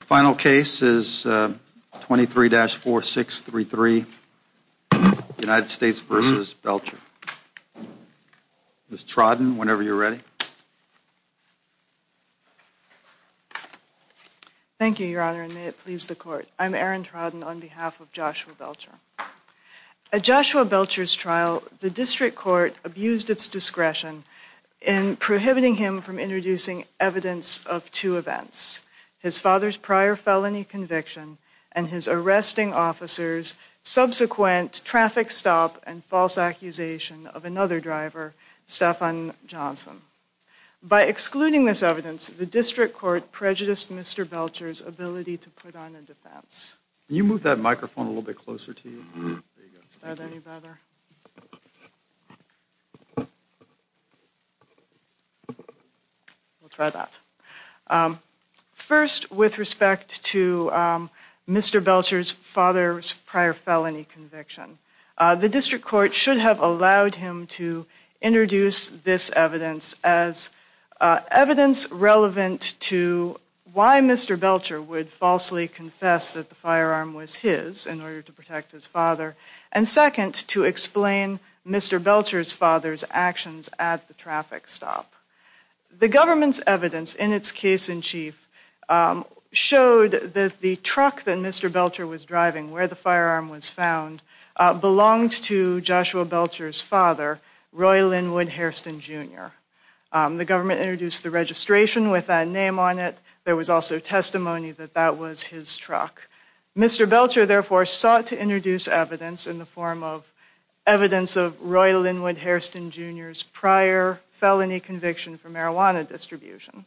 Final case is 23-4633, United States v. Belcher. Ms. Trodden, whenever you're ready. Thank you, Your Honor, and may it please the Court. I'm Erin Trodden on behalf of Joshua Belcher. At Joshua Belcher's trial, the district court abused its discretion in prohibiting him from introducing evidence of two events. His father's prior felony conviction and his arresting officer's subsequent traffic stop and false accusation of another driver, Stephan Johnson. By excluding this evidence, the district court prejudiced Mr. Belcher's ability to put on a defense. Can you move that microphone a little bit closer to you? Is that any better? We'll try that. First, with respect to Mr. Belcher's father's prior felony conviction, the district court should have allowed him to introduce this evidence as evidence relevant to why Mr. Belcher would falsely confess that the firearm was his in order to protect his father, and second, to explain Mr. Belcher's father's actions at the traffic stop. The government's evidence in its case-in-chief showed that the truck that Mr. Belcher was driving, where the firearm was found, belonged to Joshua Belcher's father, Roy Linwood Hairston, Jr. The government introduced the registration with that name on it. There was also testimony that that was his truck. Mr. Belcher, therefore, sought to introduce evidence in the form of evidence of Roy Linwood Hairston, Jr.'s prior felony conviction for marijuana distribution.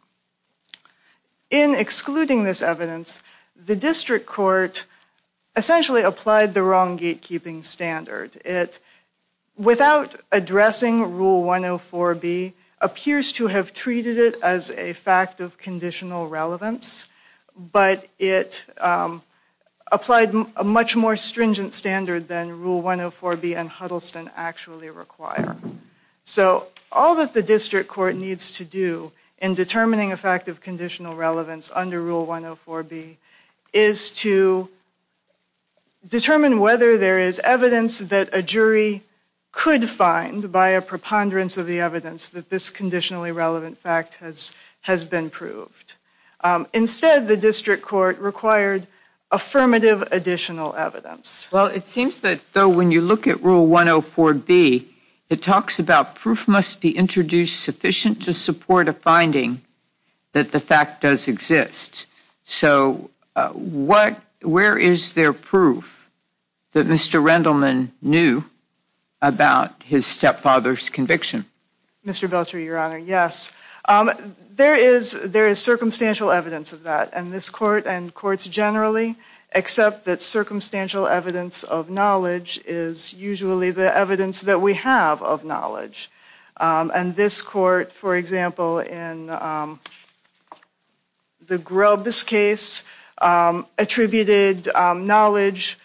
In excluding this evidence, the district court essentially applied the wrong gatekeeping standard. It, without addressing Rule 104B, appears to have treated it as a fact of conditional relevance, but it applied a much more stringent standard than Rule 104B and Huddleston actually require. So, all that the district court needs to do in determining a fact of conditional relevance under Rule 104B is to determine whether there is evidence that a jury could find by a preponderance of the evidence that this conditionally relevant fact has been proved. Instead, the district court required affirmative additional evidence. Well, it seems that, though, when you look at Rule 104B, it talks about proof must be introduced sufficient to support a finding that the fact does exist. So, where is there proof that Mr. Rendleman knew about his stepfather's conviction? Mr. Belcher, Your Honor, yes. There is circumstantial evidence of that, and this court and courts generally accept that circumstantial evidence of knowledge is usually the evidence that we have of knowledge. And this court, for example, in the Grubbs case, attributed knowledge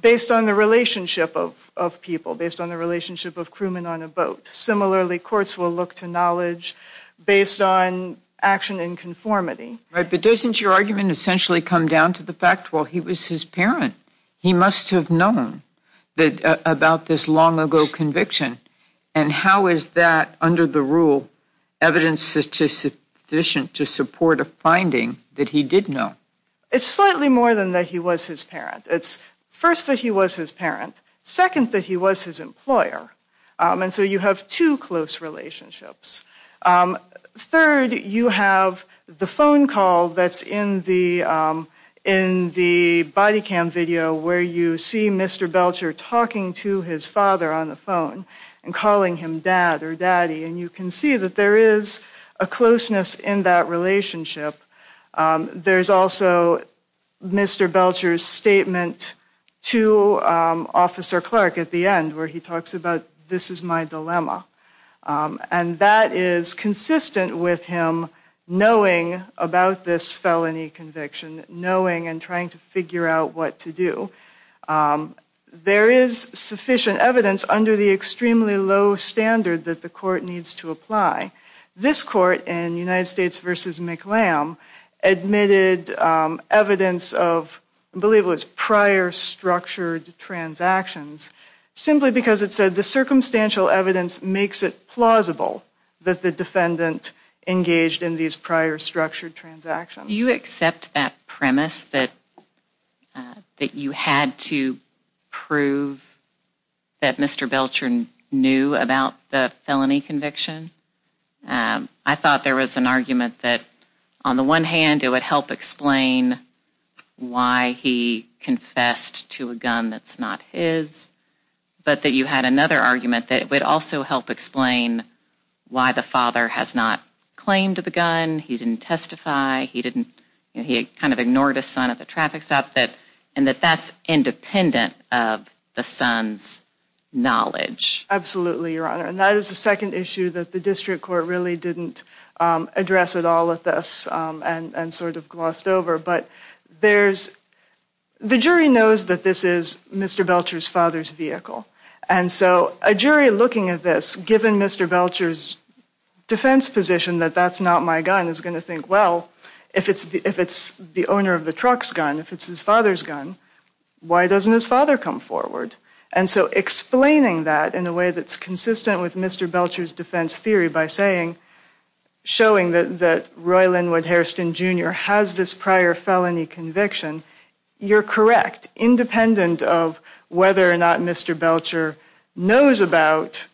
based on the relationship of people, based on the relationship of crewmen on a boat. Similarly, courts will look to knowledge based on action in conformity. Right, but doesn't your argument essentially come down to the fact, well, he was his parent. He must have known about this long ago conviction, and how is that, under the rule, evidence sufficient to support a finding that he did know? It's slightly more than that he was his parent. It's first that he was his parent, second that he was his employer, and so you have two close relationships. Third, you have the phone call that's in the body cam video where you see Mr. Belcher talking to his father on the phone and calling him dad or daddy. And you can see that there is a closeness in that relationship. There's also Mr. Belcher's statement to Officer Clark at the end where he talks about this is my dilemma. And that is consistent with him knowing about this felony conviction, knowing and trying to figure out what to do. There is sufficient evidence under the extremely low standard that the court needs to apply. This court in United States v. McLam admitted evidence of, I believe it was prior structured transactions, simply because it said the circumstantial evidence makes it plausible that the defendant engaged in these prior structured transactions. Do you accept that premise that you had to prove that Mr. Belcher knew about the felony conviction? I thought there was an argument that on the one hand it would help explain why he confessed to a gun that's not his, but that you had another argument that it would also help explain why the father has not claimed the gun, he didn't testify, he kind of ignored his son at the traffic stop, and that that's independent of the son's knowledge. Absolutely, Your Honor. And that is the second issue that the district court really didn't address at all with us and sort of glossed over. But the jury knows that this is Mr. Belcher's father's vehicle. And so a jury looking at this, given Mr. Belcher's defense position that that's not my gun, is going to think, well, if it's the owner of the truck's gun, if it's his father's gun, why doesn't his father come forward? And so explaining that in a way that's consistent with Mr. Belcher's defense theory by saying, showing that that Roy Linwood Hairston Jr. has this prior felony conviction, you're correct. Independent of whether or not Mr. Belcher knows about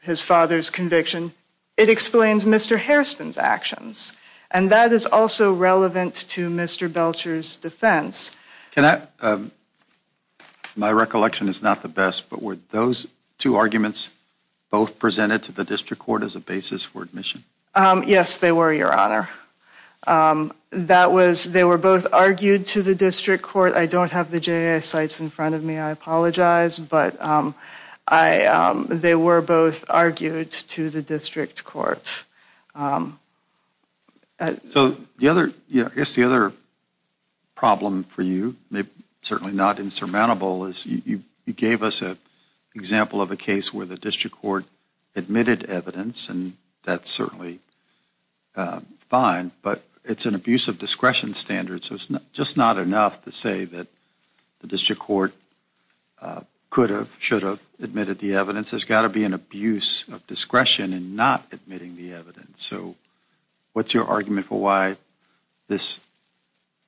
his father's conviction, it explains Mr. Hairston's actions. And that is also relevant to Mr. Belcher's defense. My recollection is not the best, but were those two arguments both presented to the district court as a basis for admission? Yes, they were, Your Honor. They were both argued to the district court. I don't have the J.I. sites in front of me. I apologize. But they were both argued to the district court. So I guess the other problem for you, certainly not insurmountable, is you gave us an example of a case where the district court admitted evidence, and that's certainly fine, but it's an abuse of discretion standard. So it's just not enough to say that the district court could have, should have admitted the evidence. There's got to be an abuse of discretion in not admitting the evidence. So what's your argument for why this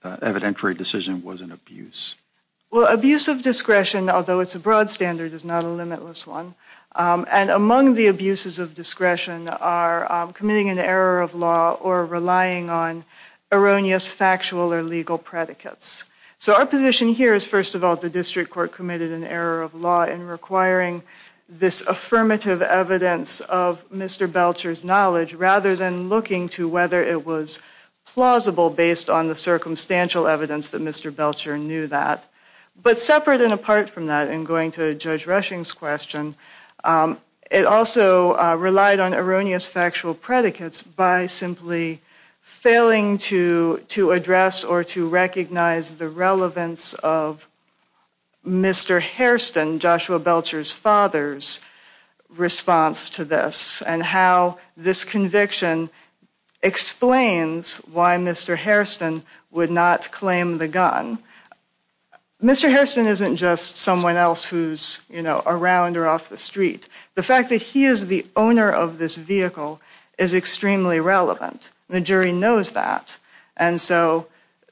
evidentiary decision was an abuse? Well, abuse of discretion, although it's a broad standard, is not a limitless one. And among the abuses of discretion are committing an error of law or relying on erroneous factual or legal predicates. So our position here is, first of all, the district court committed an error of law in requiring this affirmative evidence of Mr. Belcher's knowledge rather than looking to whether it was plausible based on the circumstantial evidence that Mr. Belcher knew that. But separate and apart from that, in going to Judge Rushing's question, it also relied on erroneous factual predicates by simply failing to address or to recognize the relevance of Mr. Hairston, Joshua Belcher's father's response to this and how this conviction explains why Mr. Hairston would not claim the gun. Mr. Hairston isn't just someone else who's around or off the street. The fact that he is the owner of this vehicle is extremely relevant. The jury knows that. And so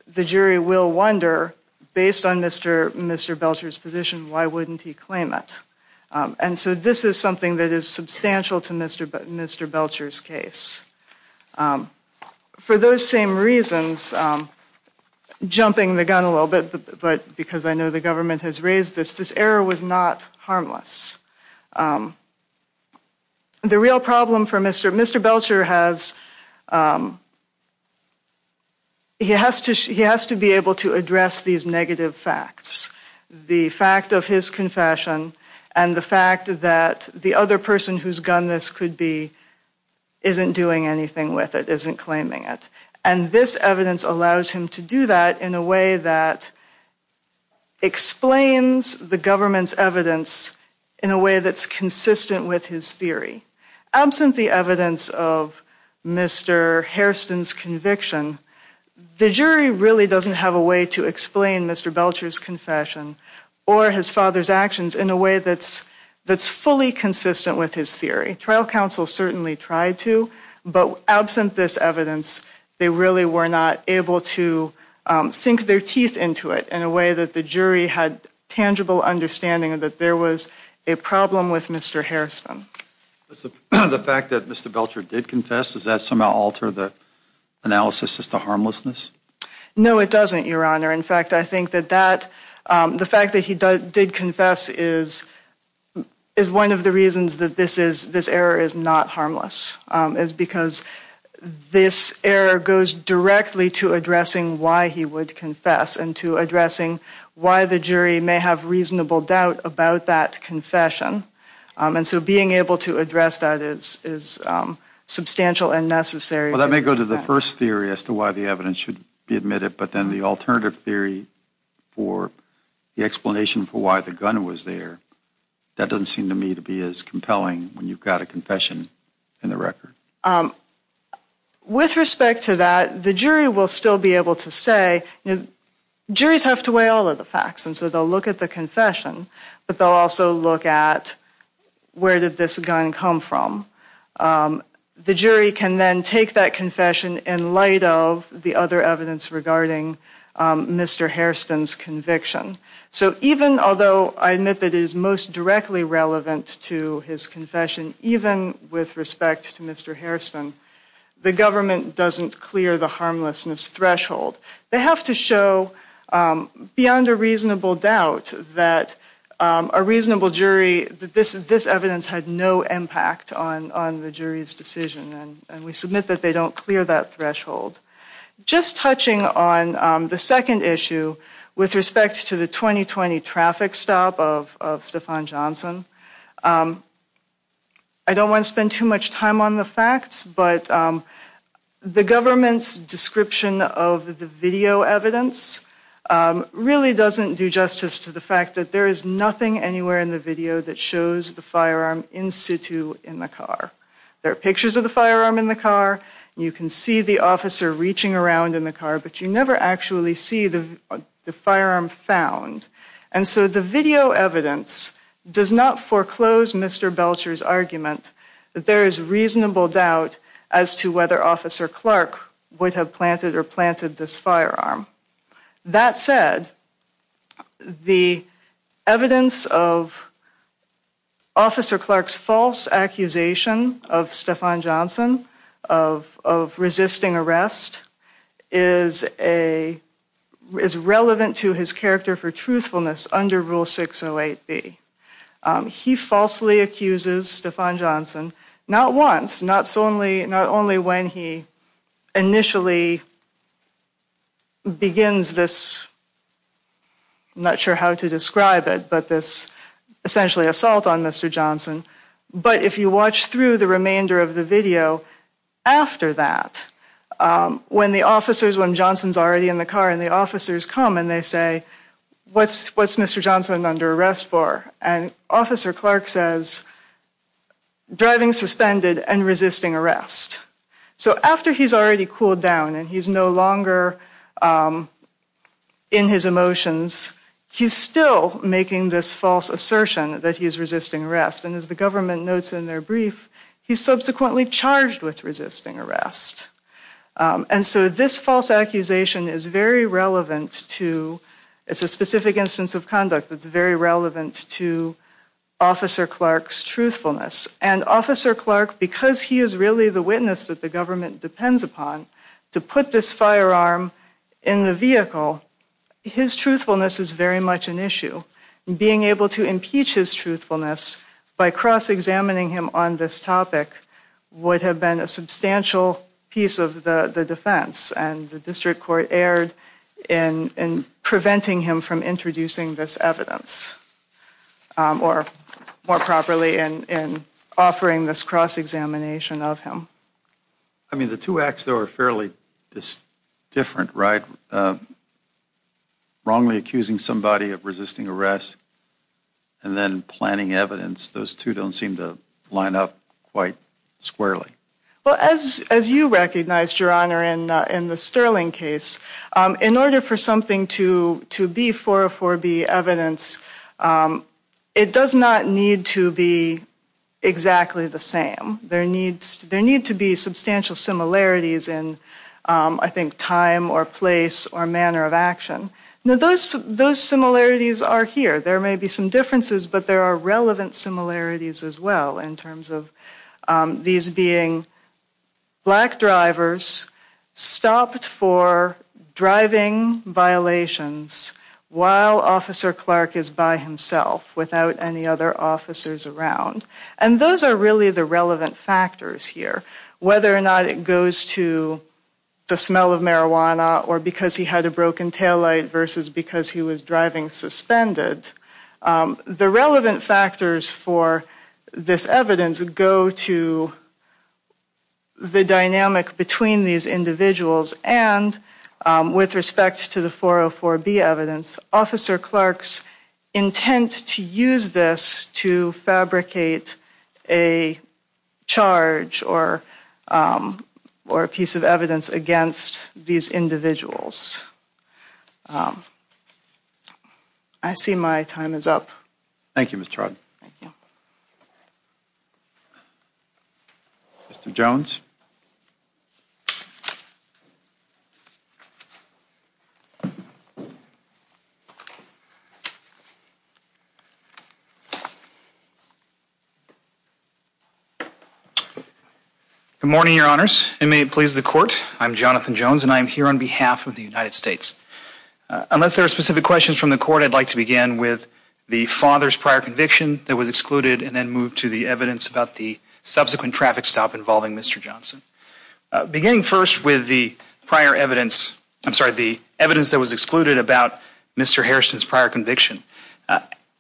the jury will wonder, based on Mr. Belcher's position, why wouldn't he claim it? And so this is something that is substantial to Mr. Belcher's case. For those same reasons, jumping the gun a little bit, but because I know the government has raised this, this error was not harmless. The real problem for Mr. Belcher has, he has to be able to address these negative facts. The fact of his confession and the fact that the other person whose gun this could be isn't doing anything with it, isn't claiming it. And this evidence allows him to do that in a way that explains the government's evidence in a way that's consistent with his theory. Absent the evidence of Mr. Hairston's conviction, the jury really doesn't have a way to explain Mr. Belcher's confession or his father's actions in a way that's fully consistent with his theory. Trial counsel certainly tried to, but absent this evidence, they really were not able to sink their teeth into it in a way that the jury had tangible understanding that there was a problem with Mr. Hairston. The fact that Mr. Belcher did confess, does that somehow alter the analysis as to harmlessness? No, it doesn't, Your Honor. In fact, I think that the fact that he did confess is one of the reasons that this error is not harmless. It's because this error goes directly to addressing why he would confess and to addressing why the jury may have reasonable doubt about that confession. And so being able to address that is substantial and necessary. Well, that may go to the first theory as to why the evidence should be admitted, but then the alternative theory for the explanation for why the gun was there, that doesn't seem to me to be as compelling when you've got a confession in the record. With respect to that, the jury will still be able to say, you know, juries have to weigh all of the facts. And so they'll look at the confession, but they'll also look at where did this gun come from? The jury can then take that confession in light of the other evidence regarding Mr. Hairston's conviction. So even although I admit that it is most directly relevant to his confession, even with respect to Mr. Hairston, the government doesn't clear the harmlessness threshold. They have to show beyond a reasonable doubt that a reasonable jury, that this evidence had no impact on the jury's decision, and we submit that they don't clear that threshold. Just touching on the second issue with respect to the 2020 traffic stop of Stephon Johnson. I don't want to spend too much time on the facts, but the government's description of the video evidence really doesn't do justice to the fact that there is nothing anywhere in the video that shows the firearm in situ in the car. There are pictures of the firearm in the car, you can see the officer reaching around in the car, but you never actually see the firearm found. And so the video evidence does not foreclose Mr. Belcher's argument that there is reasonable doubt as to whether Officer Clark would have planted or planted this firearm. That said, the evidence of Officer Clark's false accusation of Stephon Johnson of resisting arrest is relevant to his character for truthfulness under Rule 608B. He falsely accuses Stephon Johnson, not once, not only when he initially begins this, I'm not sure how to describe it, but this essentially assault on Mr. Johnson. But if you watch through the remainder of the video after that, when Johnson's already in the car and the officers come and they say, what's Mr. Johnson under arrest for? And Officer Clark says, driving suspended and resisting arrest. So after he's already cooled down and he's no longer in his emotions, he's still making this false assertion that he's resisting arrest. And as the government notes in their brief, he's subsequently charged with resisting arrest. And so this false accusation is very relevant to, it's a specific instance of conduct that's very relevant to Officer Clark's truthfulness. And Officer Clark, because he is really the witness that the government depends upon to put this firearm in the vehicle, his truthfulness is very much an issue. Being able to impeach his truthfulness by cross examining him on this topic would have been a substantial piece of the defense. And the district court erred in preventing him from introducing this evidence or more properly in offering this cross examination of him. I mean, the two acts, though, are fairly different, right? Wrongly accusing somebody of resisting arrest. And then planning evidence. Those two don't seem to line up quite squarely. Well, as you recognized, Your Honor, in the Sterling case, in order for something to be 404B evidence, it does not need to be exactly the same. There need to be substantial similarities in, I think, time or place or manner of action. Now, those similarities are here. There may be some differences, but there are relevant similarities as well in terms of these being black drivers stopped for driving violations while Officer Clark is by himself without any other officers around. And those are really the relevant factors here. Whether or not it goes to the smell of marijuana or because he had a broken taillight versus because he was driving suspended, the relevant factors for this evidence go to the dynamic between these individuals. And with respect to the 404B evidence, Officer Clark's intent to use this to fabricate a charge or a piece of evidence against these individuals. I see my time is up. Thank you, Ms. Trodd. Thank you. Mr. Jones. Good morning, Your Honors. And may it please the Court, I'm Jonathan Jones, and I'm here on behalf of the United States. Unless there are specific questions from the Court, I'd like to begin with the father's prior conviction that was excluded and then move to the evidence about the subsequent traffic stop involving Mr. Johnson. Beginning first with the prior evidence, I'm sorry, the evidence that was excluded about Mr. Harrison's prior conviction.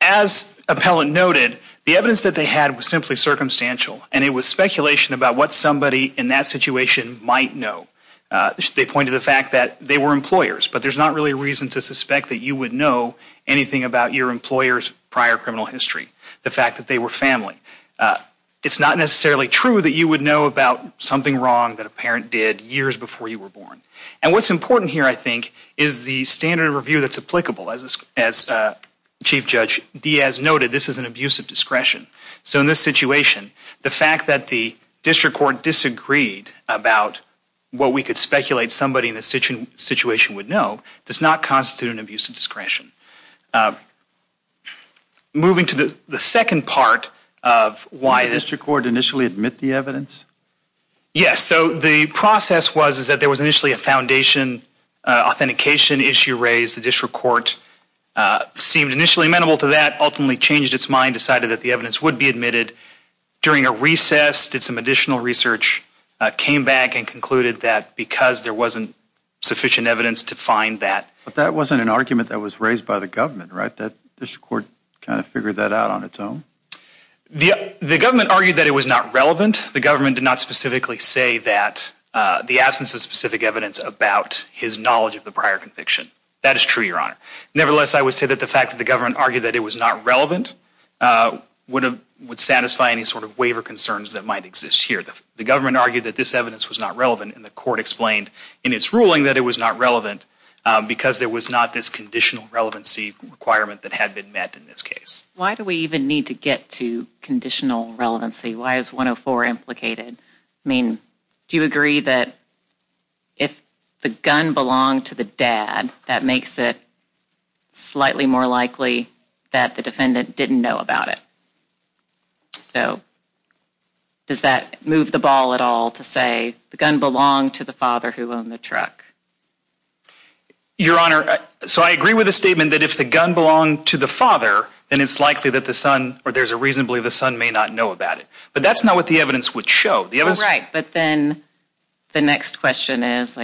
As appellant noted, the evidence that they had was simply circumstantial, and it was speculation about what somebody in that situation might know. They point to the fact that they were employers, but there's not really a reason to suspect that you would know anything about your employer's prior criminal history, the fact that they were family. It's not necessarily true that you would know about something wrong that a parent did years before you were born. And what's important here, I think, is the standard of review that's applicable. As Chief Judge Diaz noted, this is an abuse of discretion. So in this situation, the fact that the District Court disagreed about what we could speculate somebody in this situation would know does not constitute an abuse of discretion. Moving to the second part of why this… Did the District Court initially admit the evidence? Yes, so the process was that there was initially a foundation authentication issue raised. The District Court seemed initially amenable to that, ultimately changed its mind, decided that the evidence would be admitted. During a recess, did some additional research, came back and concluded that because there wasn't sufficient evidence to find that… But that wasn't an argument that was raised by the government, right? That District Court kind of figured that out on its own? The government argued that it was not relevant. The government did not specifically say that, the absence of specific evidence about his knowledge of the prior conviction. That is true, Your Honor. Nevertheless, I would say that the fact that the government argued that it was not relevant would satisfy any sort of waiver concerns that might exist here. The government argued that this evidence was not relevant, and the court explained in its ruling that it was not relevant because there was not this conditional relevancy requirement that had been met in this case. Why do we even need to get to conditional relevancy? Why is 104 implicated? I mean, do you agree that if the gun belonged to the dad, that makes it slightly more likely that the defendant didn't know about it? So, does that move the ball at all to say the gun belonged to the father who owned the truck? Your Honor, so I agree with the statement that if the gun belonged to the father, then it's likely that the son, or there's a reason to believe the son may not know about it. But that's not what the evidence would show. Right, but then the next question is,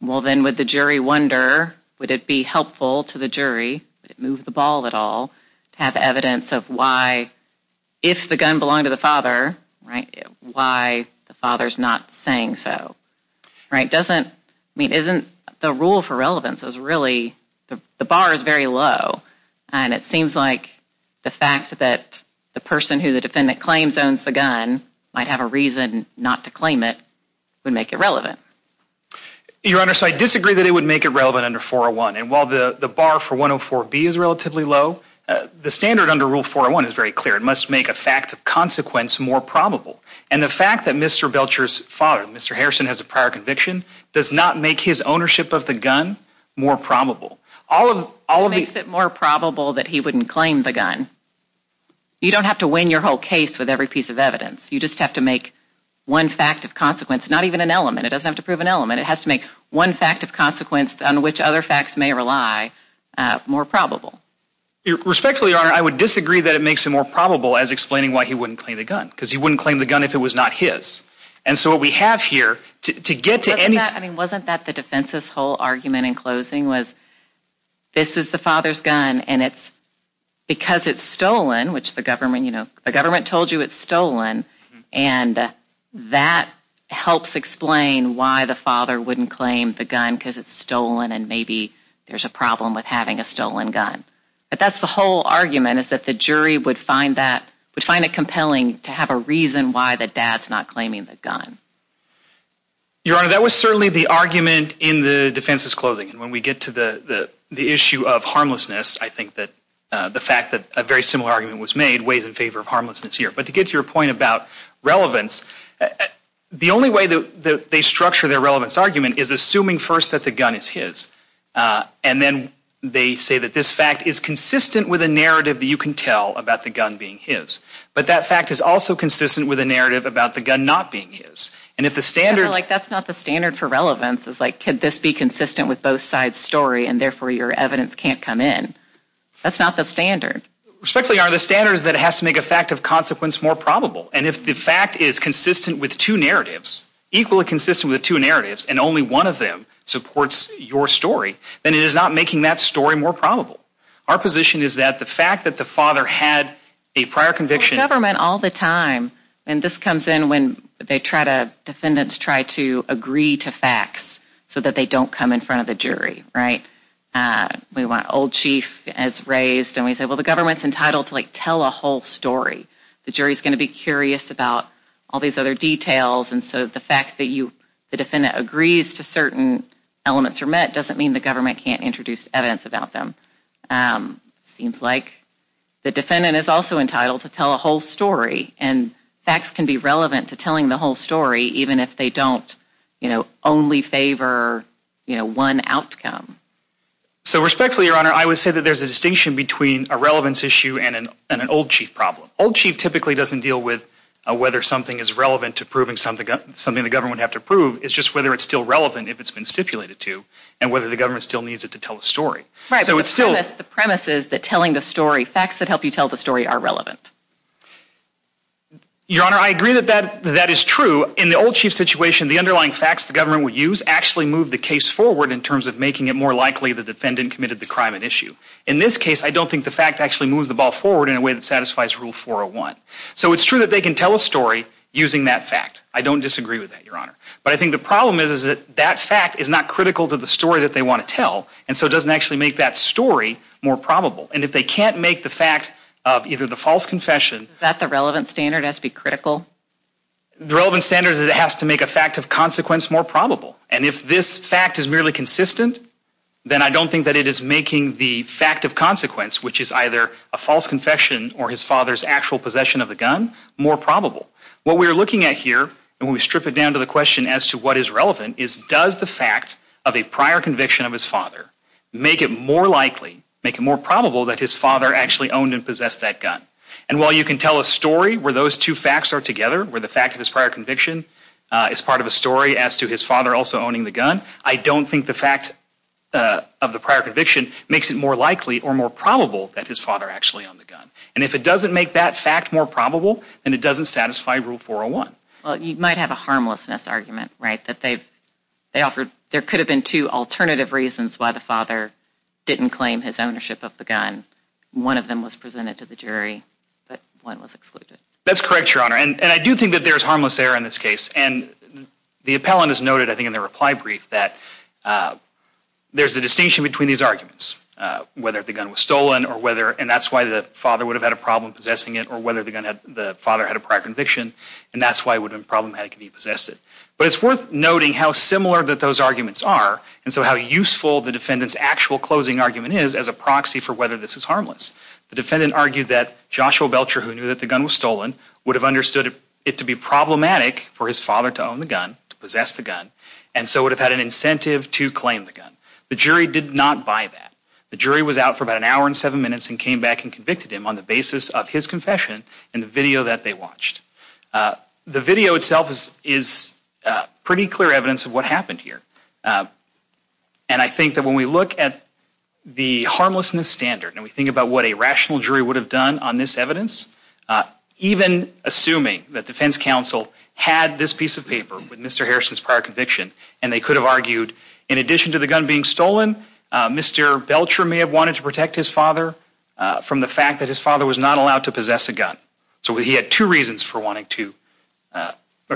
well, then would the jury wonder, would it be helpful to the jury, would it move the ball at all, to have evidence of why, if the gun belonged to the father, why the father's not saying so. Right, doesn't, I mean, isn't the rule for relevance is really, the bar is very low, and it seems like the fact that the person who the defendant claims owns the gun might have a reason not to claim it would make it relevant. Your Honor, so I disagree that it would make it relevant under 401, and while the bar for 104B is relatively low, the standard under Rule 401 is very clear. It must make a fact of consequence more probable. And the fact that Mr. Belcher's father, Mr. Harrison, has a prior conviction does not make his ownership of the gun more probable. It makes it more probable that he wouldn't claim the gun. You don't have to win your whole case with every piece of evidence. You just have to make one fact of consequence, not even an element, it doesn't have to prove an element, it has to make one fact of consequence on which other facts may rely more probable. Respectfully, Your Honor, I would disagree that it makes it more probable as explaining why he wouldn't claim the gun, because he wouldn't claim the gun if it was not his. And so what we have here, to get to any... Wasn't that the defense's whole argument in closing was, this is the father's gun, and it's because it's stolen, which the government, you know, the government told you it's stolen, and that helps explain why the father wouldn't claim the gun, because it's stolen and maybe there's a problem with having a stolen gun. But that's the whole argument, is that the jury would find that, would find it compelling to have a reason why the dad's not claiming the gun. Your Honor, that was certainly the argument in the defense's closing. And when we get to the issue of harmlessness, I think that the fact that a very similar argument was made weighs in favor of harmlessness here. But to get to your point about relevance, the only way that they structure their relevance argument is assuming first that the gun is his. And then they say that this fact is consistent with a narrative that you can tell about the gun being his. But that fact is also consistent with a narrative about the gun not being his. And if the standard... I feel like that's not the standard for relevance. It's like, could this be consistent with both sides' story, and therefore your evidence can't come in? That's not the standard. Respectfully, Your Honor, the standard is that it has to make a fact of consequence more probable. And if the fact is consistent with two narratives, equally consistent with two narratives, and only one of them supports your story, then it is not making that story more probable. Our position is that the fact that the father had a prior conviction... Well, the government all the time, and this comes in when they try to, defendants try to agree to facts so that they don't come in front of the jury, right? We want old chief as raised, and we say, well, the government's entitled to tell a whole story. The jury's going to be curious about all these other details. And so the fact that the defendant agrees to certain elements are met doesn't mean the government can't introduce evidence about them. It seems like the defendant is also entitled to tell a whole story. And facts can be relevant to telling the whole story, even if they don't, you know, only favor, you know, one outcome. So respectfully, Your Honor, I would say that there's a distinction between a relevance issue and an old chief problem. Old chief typically doesn't deal with whether something is relevant to proving something the government would have to prove. It's just whether it's still relevant if it's been stipulated to, and whether the government still needs it to tell a story. Right, but the premise is that telling the story, facts that help you tell the story are relevant. Your Honor, I agree that that is true. In the old chief situation, the underlying facts the government would use actually move the case forward in terms of making it more likely the defendant committed the crime at issue. In this case, I don't think the fact actually moves the ball forward in a way that satisfies Rule 401. So it's true that they can tell a story using that fact. I don't disagree with that, Your Honor. But I think the problem is that that fact is not critical to the story that they want to tell, and so it doesn't actually make that story more probable. And if they can't make the fact of either the false confession... Does that the relevance standard has to be critical? The relevance standard is that it has to make a fact of consequence more probable. And if this fact is merely consistent, then I don't think that it is making the fact of consequence, which is either a false confession or his father's actual possession of the gun, more probable. What we are looking at here, and we strip it down to the question as to what is relevant, is does the fact of a prior conviction of his father make it more likely, make it more probable, that his father actually owned and possessed that gun? And while you can tell a story where those two facts are together, where the fact of his prior conviction is part of a story as to his father also owning the gun, I don't think the fact of the prior conviction makes it more likely or more probable that his father actually owned the gun. And if it doesn't make that fact more probable, then it doesn't satisfy Rule 401. Well, you might have a harmlessness argument, right? That there could have been two alternative reasons why the father didn't claim his ownership of the gun. One of them was presented to the jury, but one was excluded. That's correct, Your Honor. And I do think that there's harmless error in this case. And the appellant has noted, I think, in the reply brief that there's a distinction between these arguments, whether the gun was stolen, and that's why the father would have had a problem possessing it, or whether the father had a prior conviction. And that's why it would have been problematic if he possessed it. But it's worth noting how similar those arguments are, and so how useful the defendant's actual closing argument is as a proxy for whether this is harmless. The defendant argued that Joshua Belcher, who knew that the gun was stolen, would have understood it to be problematic for his father to own the gun, to possess the gun, and so would have had an incentive to claim the gun. The jury did not buy that. The jury was out for about an hour and seven minutes and came back and convicted him on the basis of his confession in the video that they watched. The video itself is pretty clear evidence of what happened here. And I think that when we look at the harmlessness standard and we think about what a rational jury would have done on this evidence, even assuming that defense counsel had this piece of paper with Mr. Harrison's prior conviction and they could have argued, in addition to the gun being stolen, Mr. Belcher may have wanted to protect his father from the fact that his father was not allowed to possess a gun. So he had two reasons for wanting to...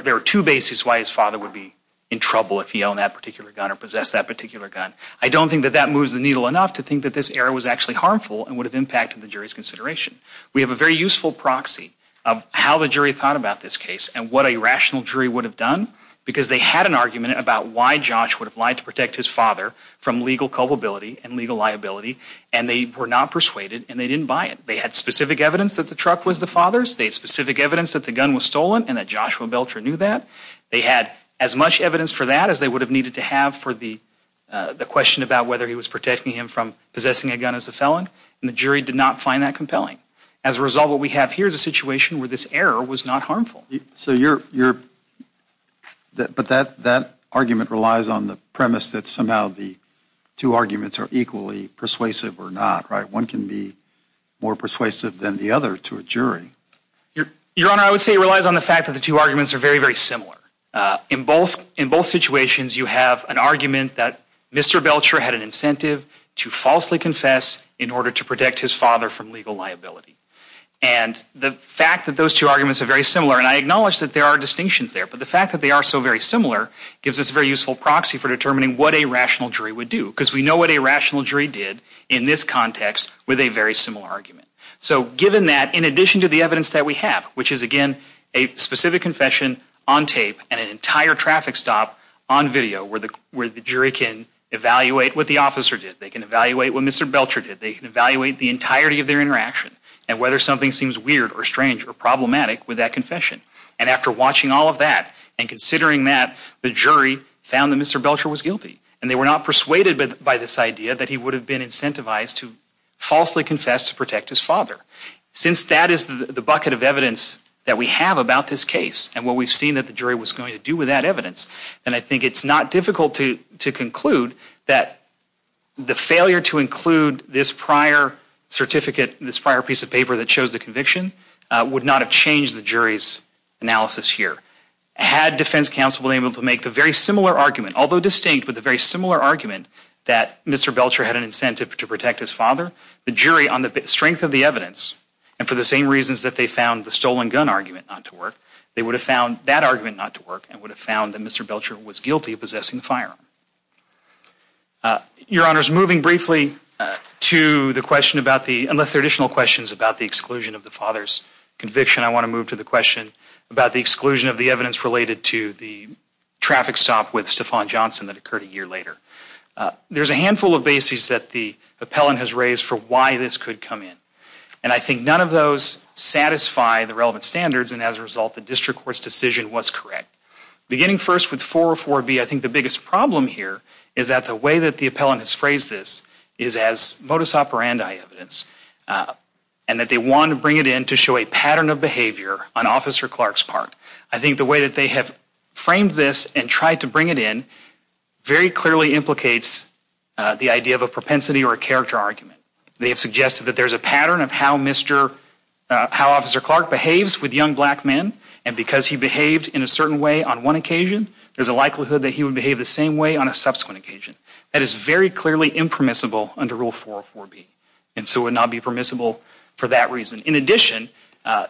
There were two bases why his father would be in trouble if he owned that particular gun or possessed that particular gun. I don't think that that moves the needle enough to think that this error was actually harmful and would have impacted the jury's consideration. We have a very useful proxy of how the jury thought about this case and what a rational jury would have done, because they had an argument about why Josh would have lied to protect his father from legal culpability and legal liability, and they were not persuaded and they didn't buy it. They had specific evidence that the truck was the father's. They had specific evidence that the gun was stolen and that Joshua Belcher knew that. They had as much evidence for that as they would have needed to have for the question about whether he was protecting him from possessing a gun as a felon, and the jury did not find that compelling. As a result, what we have here is a situation where this error was not harmful. So you're... But that argument relies on the premise that somehow the two arguments are equally persuasive or not, right? One can be more persuasive than the other to a jury. Your Honor, I would say it relies on the fact that the two arguments are very, very similar. In both situations, you have an argument that Mr. Belcher had an incentive to falsely confess in order to protect his father from legal liability, and the fact that those two arguments are very similar, and I acknowledge that there are distinctions there, but the fact that they are so very similar gives us a very useful proxy for determining what a rational jury would do, because we know what a rational jury did in this context with a very similar argument. So given that, in addition to the evidence that we have, which is, again, a specific confession on tape and an entire traffic stop on video where the jury can evaluate what the officer did, they can evaluate what Mr. Belcher did, they can evaluate the entirety of their interaction and whether something seems weird or strange or problematic with that confession. And after watching all of that and considering that, the jury found that Mr. Belcher was guilty, and they were not persuaded by this idea that he would have been incentivized to falsely confess to protect his father. Since that is the bucket of evidence that we have about this case and what we've seen that the jury was going to do with that evidence, then I think it's not difficult to conclude that the failure to include this prior certificate, this prior piece of paper that shows the conviction, would not have changed the jury's analysis here. Had defense counsel been able to make the very similar argument, although distinct with a very similar argument, that Mr. Belcher had an incentive to protect his father, the jury, on the strength of the evidence, and for the same reasons that they found the stolen gun argument not to work, they would have found that argument not to work and would have found that Mr. Belcher was guilty of possessing the firearm. Your Honors, moving briefly to the question about the, unless there are additional questions about the exclusion of the father's conviction, I want to move to the question about the exclusion of the evidence related to the traffic stop with Stephon Johnson that occurred a year later. There's a handful of bases that the appellant has raised for why this could come in, and I think none of those satisfy the relevant standards, and as a result, the district court's decision was correct. Beginning first with 404B, I think the biggest problem here is that the way that the appellant has phrased this is as modus operandi evidence and that they want to bring it in to show a pattern of behavior on Officer Clark's part. I think the way that they have framed this and tried to bring it in very clearly implicates the idea of a propensity or a character argument. They have suggested that there's a pattern of how Officer Clark behaves with young black men, and because he behaved in a certain way on one occasion, there's a likelihood that he would behave the same way on a subsequent occasion. That is very clearly impermissible under Rule 404B, and so would not be permissible for that reason. In addition,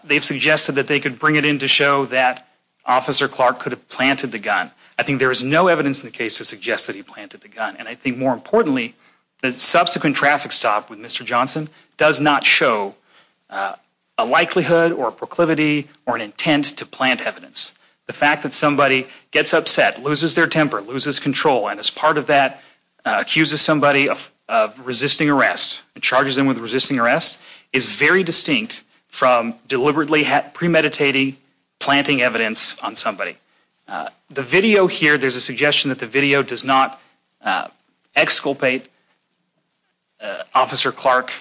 they've suggested that they could bring it in to show that Officer Clark could have planted the gun. I think there is no evidence in the case to suggest that he planted the gun, and I think more importantly, the subsequent traffic stop with Mr. Johnson does not show a likelihood or a proclivity or an intent to plant evidence. The fact that somebody gets upset, loses their temper, loses control, and as part of that, accuses somebody of resisting arrest and charges them with resisting arrest is very distinct from deliberately premeditating planting evidence on somebody. The video here, there's a suggestion that the video does not exculpate Officer Clark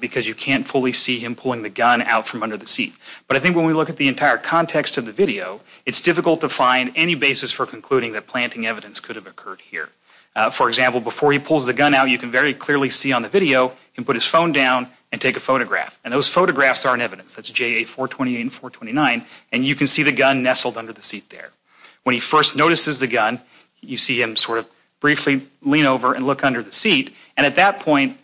because you can't fully see him pulling the gun out from under the seat. But I think when we look at the entire context of the video, it's difficult to find any basis for concluding that planting evidence could have occurred here. For example, before he pulls the gun out, you can very clearly see on the video, he can put his phone down and take a photograph, and those photographs are in evidence. That's JA 428 and 429, and you can see the gun nestled under the seat there. When he first notices the gun, you see him sort of briefly lean over and look under the seat, and at that point,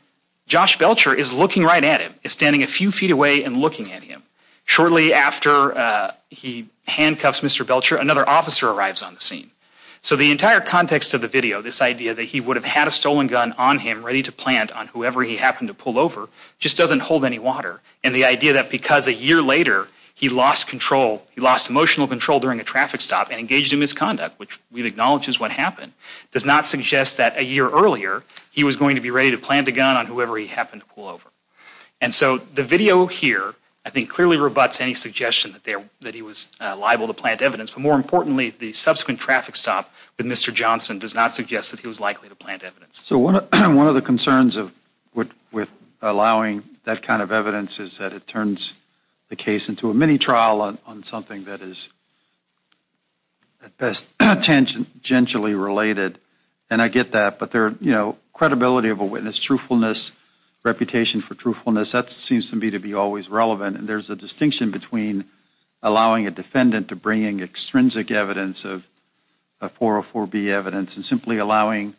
Josh Belcher is looking right at him. He's standing a few feet away and looking at him. Shortly after he handcuffs Mr. Belcher, another officer arrives on the scene. So the entire context of the video, this idea that he would have had a stolen gun on him, ready to plant on whoever he happened to pull over, just doesn't hold any water. And the idea that because a year later, he lost control, he lost emotional control during a traffic stop and engaged in misconduct, which we acknowledge is what happened, does not suggest that a year earlier, he was going to be ready to plant a gun on whoever he happened to pull over. And so the video here, I think, clearly rebutts any suggestion that he was liable to plant evidence. But more importantly, the subsequent traffic stop with Mr. Johnson does not suggest that he was likely to plant evidence. So one of the concerns with allowing that kind of evidence is that it turns the case into a mini-trial on something that is, at best, tangentially related. And I get that, but credibility of a witness, truthfulness, reputation for truthfulness, that seems to me to be always relevant. And there's a distinction between allowing a defendant to bring in extrinsic evidence of 404B evidence and simply allowing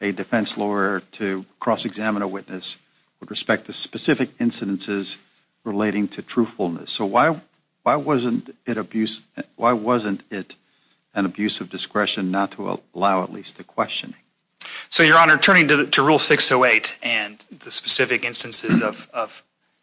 a defense lawyer to cross-examine a witness with respect to specific incidences relating to truthfulness. So why wasn't it an abuse of discretion not to allow at least a questioning? So, Your Honor, turning to Rule 608 and the specific instances of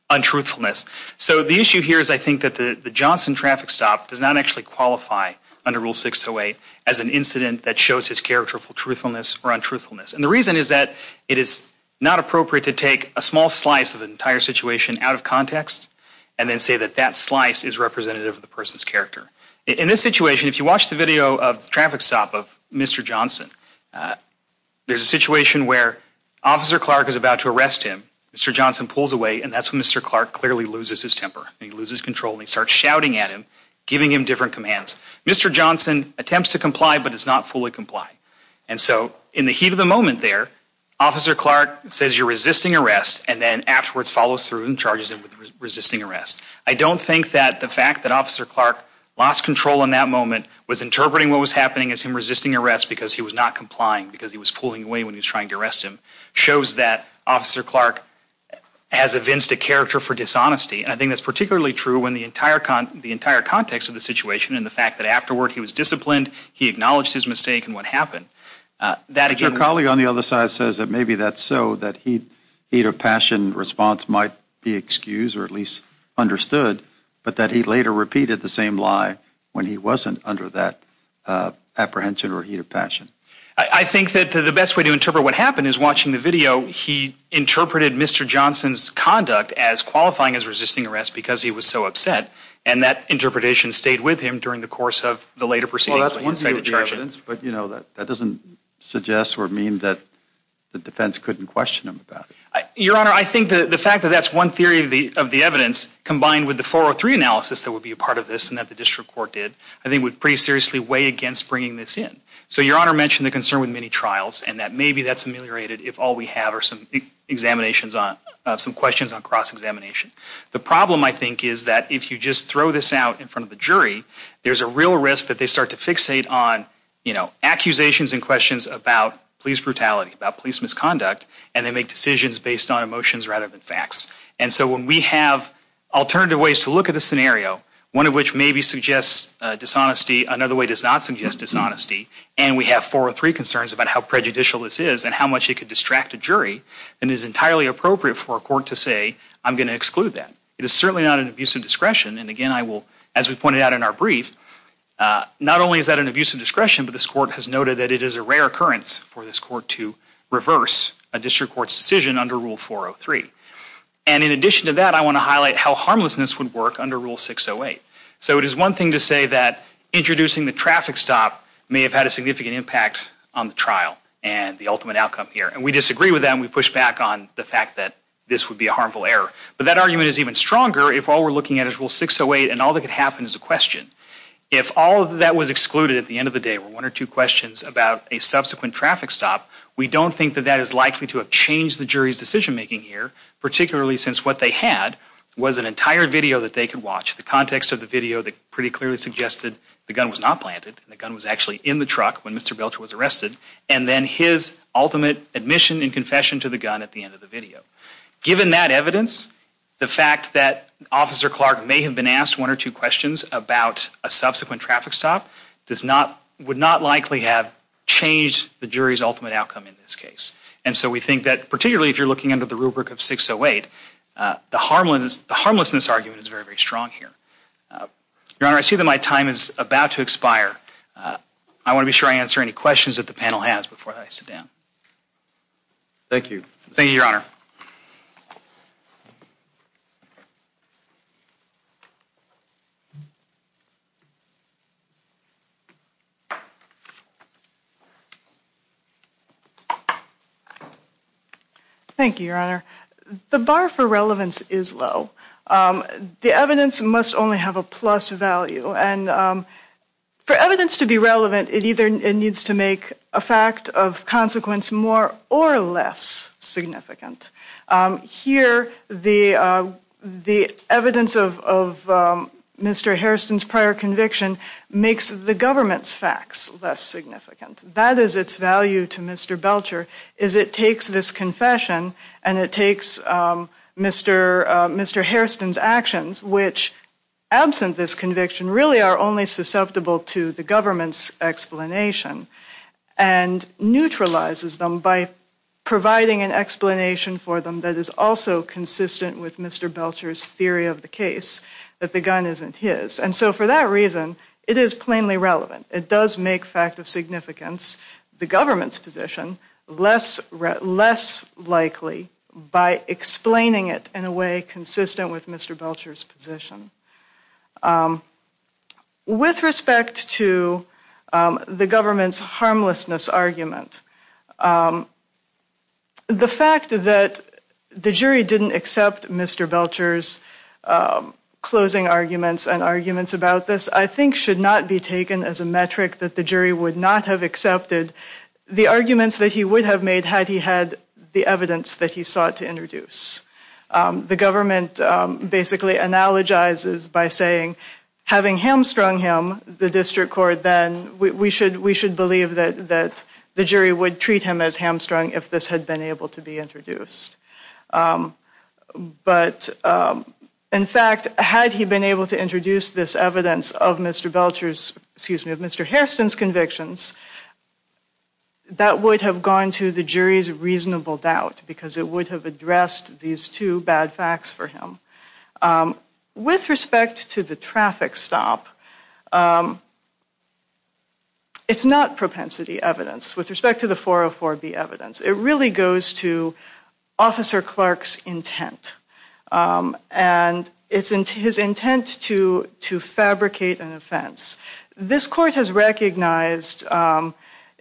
untruthfulness, so the issue here is, I think, that the Johnson traffic stop does not actually qualify under Rule 608 as an incident that shows his character for truthfulness or untruthfulness. And the reason is that it is not appropriate to take a small slice of an entire situation out of context and then say that that slice is representative of the person's character. In this situation, if you watch the video of the traffic stop of Mr. Johnson, there's a situation where Officer Clark is about to arrest him. Mr. Johnson pulls away, and that's when Mr. Clark clearly loses his temper. He loses control, and he starts shouting at him, giving him different commands. Mr. Johnson attempts to comply but does not fully comply. And so in the heat of the moment there, Officer Clark says, you're resisting arrest, and then afterwards follows through and charges him with resisting arrest. I don't think that the fact that Officer Clark lost control in that moment, was interpreting what was happening as him resisting arrest because he was not complying, because he was pulling away when he was trying to arrest him, shows that Officer Clark has evinced a character for dishonesty. And I think that's particularly true when the entire context of the situation and the fact that afterward he was disciplined, he acknowledged his mistake and what happened. Your colleague on the other side says that maybe that's so, that heat of passion response might be excused or at least understood, but that he later repeated the same lie when he wasn't under that apprehension or heat of passion. I think that the best way to interpret what happened is watching the video. He interpreted Mr. Johnson's conduct as qualifying as resisting arrest because he was so upset, and that interpretation stayed with him during the course of the later proceedings. Well, that's one theory of the evidence, but that doesn't suggest or mean that the defense couldn't question him about it. Your Honor, I think the fact that that's one theory of the evidence, combined with the 403 analysis that would be a part of this and that the district court did, I think would pretty seriously weigh against bringing this in. So, Your Honor mentioned the concern with many trials and that maybe that's ameliorated if all we have are some examinations on, some questions on cross-examination. The problem, I think, is that if you just throw this out in front of the jury, there's a real risk that they start to fixate on, you know, accusations and questions about police brutality, about police misconduct, and they make decisions based on emotions rather than facts. And so when we have alternative ways to look at the scenario, one of which maybe suggests dishonesty, another way does not suggest dishonesty, and we have 403 concerns about how prejudicial this is and how much it could distract a jury, then it is entirely appropriate for a court to say, I'm going to exclude that. It is certainly not an abuse of discretion. And again, I will, as we pointed out in our brief, not only is that an abuse of discretion, but this court has noted that it is a rare occurrence for this court to reverse a district court's decision under Rule 403. And in addition to that, I want to highlight how harmlessness would work under Rule 608. So it is one thing to say that introducing the traffic stop may have had a significant impact on the trial and the ultimate outcome here, and we disagree with that, and we push back on the fact that this would be a harmful error. But that argument is even stronger if all we're looking at is Rule 608 and all that could happen is a question. If all of that was excluded at the end of the day were one or two questions about a subsequent traffic stop, we don't think that that is likely to have changed the jury's decision-making here, particularly since what they had was an entire video that they could watch, the context of the video that pretty clearly suggested the gun was not planted, the gun was actually in the truck when Mr. Belcher was arrested, and then his ultimate admission and confession to the gun at the end of the video. Given that evidence, the fact that Officer Clark may have been asked one or two questions about a subsequent traffic stop would not likely have changed the jury's ultimate outcome in this case. And so we think that particularly if you're looking under the rubric of 608, the harmlessness argument is very, very strong here. Your Honor, I see that my time is about to expire. I want to be sure I answer any questions that the panel has before I sit down. Thank you. Thank you, Your Honor. Thank you, Your Honor. The bar for relevance is low. The evidence must only have a plus value, and for evidence to be relevant, it either needs to make a fact of consequence more or less significant. Here, the evidence of Mr. Harrison's prior conviction makes the government's facts less significant. That is its value to Mr. Belcher, is it takes this confession and it takes Mr. Harrison's actions, which, absent this conviction, really are only susceptible to the government's explanation, and neutralizes them by providing an explanation for them that is also consistent with Mr. Belcher's theory of the case, that the gun isn't his. And so for that reason, it is plainly relevant. It does make fact of significance the government's position less likely by explaining it in a way consistent with Mr. Belcher's position. With respect to the government's harmlessness argument, the fact that the jury didn't accept Mr. Belcher's closing arguments and arguments about this, I think should not be taken as a metric that the jury would not have accepted the arguments that he would have made had he had the evidence that he sought to introduce. The government basically analogizes by saying, having hamstrung him, the district court, then we should believe that the jury would treat him as hamstrung if this had been able to be introduced. But in fact, had he been able to introduce this evidence of Mr. Belcher's, excuse me, of Mr. Hairston's convictions, that would have gone to the jury's reasonable doubt because it would have addressed these two bad facts for him. With respect to the traffic stop, it's not propensity evidence. With respect to the 404B evidence, it really goes to Officer Clark's intent. And it's his intent to fabricate an offense. This court has recognized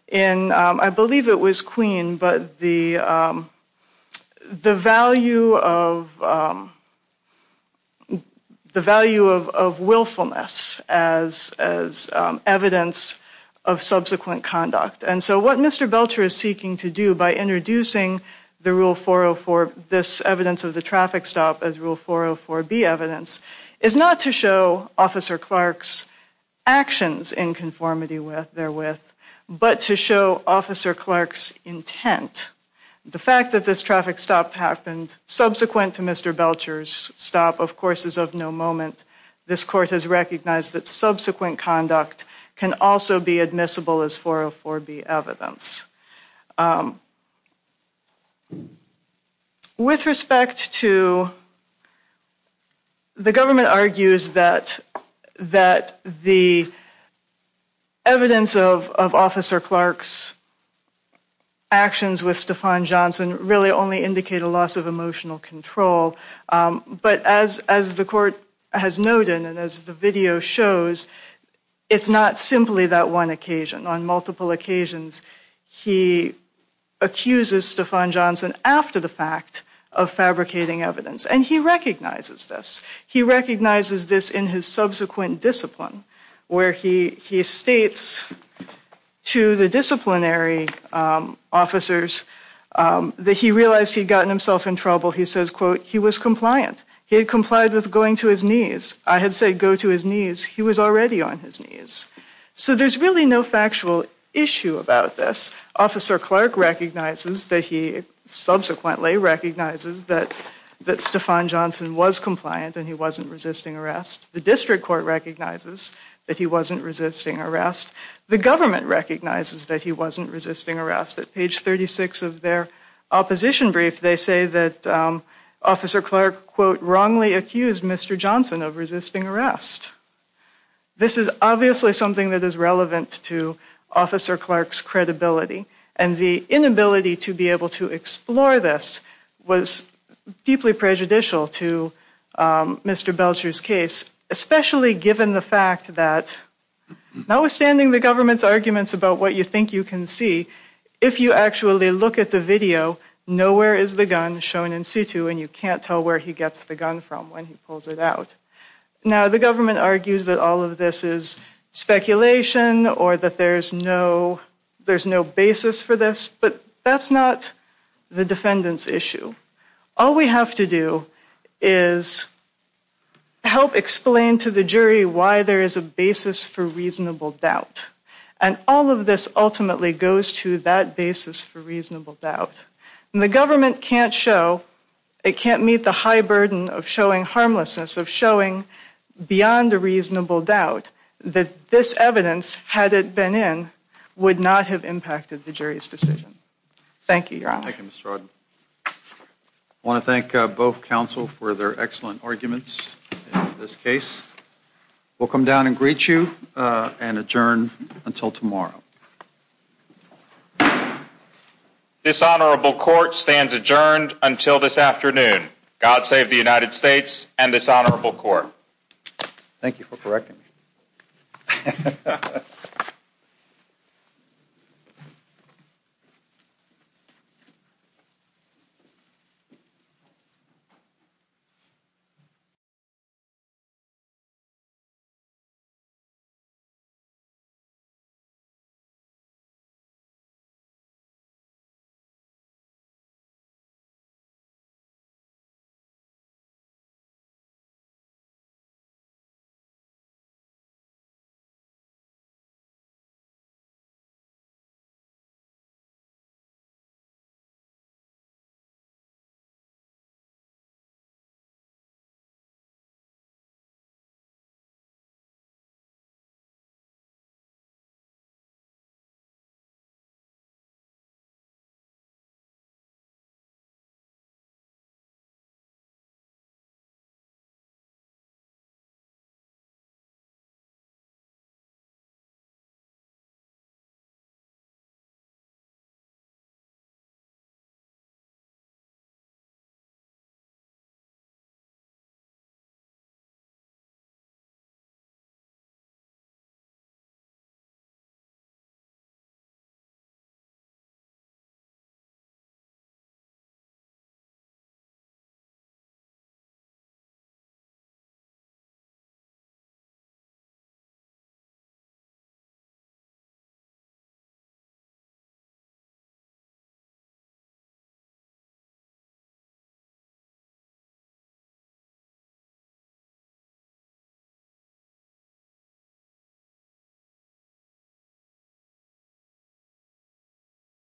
in, I believe it was Queen, but the value of willfulness as evidence of subsequent conduct. And so what Mr. Belcher is seeking to do by introducing the rule 404, this evidence of the traffic stop as rule 404B evidence, is not to show Officer Clark's actions in conformity therewith, but to show Officer Clark's intent. The fact that this traffic stop happened subsequent to Mr. Belcher's stop, of course, is of no moment. This court has recognized that subsequent conduct can also be admissible as 404B evidence. With respect to, the government argues that the evidence of Officer Clark's actions with Stephon Johnson really only indicate a loss of emotional control. But as the court has noted, and as the video shows, it's not simply that one occasion. On multiple occasions, he accuses Stephon Johnson after the fact of fabricating evidence. And he recognizes this. He recognizes this in his subsequent discipline, where he states to the disciplinary officers that he realized he'd gotten himself in trouble. He says, quote, he was compliant. He had complied with going to his knees. I had said go to his knees. He was already on his knees. So there's really no factual issue about this. Officer Clark recognizes that he subsequently recognizes that Stephon Johnson was compliant and he wasn't resisting arrest. The district court recognizes that he wasn't resisting arrest. The government recognizes that he wasn't resisting arrest. At page 36 of their opposition brief, they say that Officer Clark, quote, wrongly accused Mr. Johnson of resisting arrest. This is obviously something that is relevant to Officer Clark's credibility. And the inability to be able to explore this was deeply prejudicial to Mr. Belcher's case, especially given the fact that notwithstanding the government's arguments about what you think you can see, if you actually look at the video, nowhere is the gun shown in situ, and you can't tell where he gets the gun from when he pulls it out. Now, the government argues that all of this is speculation or that there's no basis for this, but that's not the defendant's issue. All we have to do is help explain to the jury why there is a basis for reasonable doubt. And all of this ultimately goes to that basis for reasonable doubt. And the government can't show, it can't meet the high burden of showing harmlessness, of showing beyond a reasonable doubt that this evidence, had it been in, would not have impacted the jury's decision. Thank you, Your Honor. Thank you, Mr. Arden. I want to thank both counsel for their excellent arguments in this case. We'll come down and greet you and adjourn until tomorrow. This honorable court stands adjourned until this afternoon. God save the United States and this honorable court. Thank you for correcting me. Thank you. Thank you. Thank you. Thank you. Thank you. Thank you.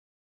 Thank you. Thank you.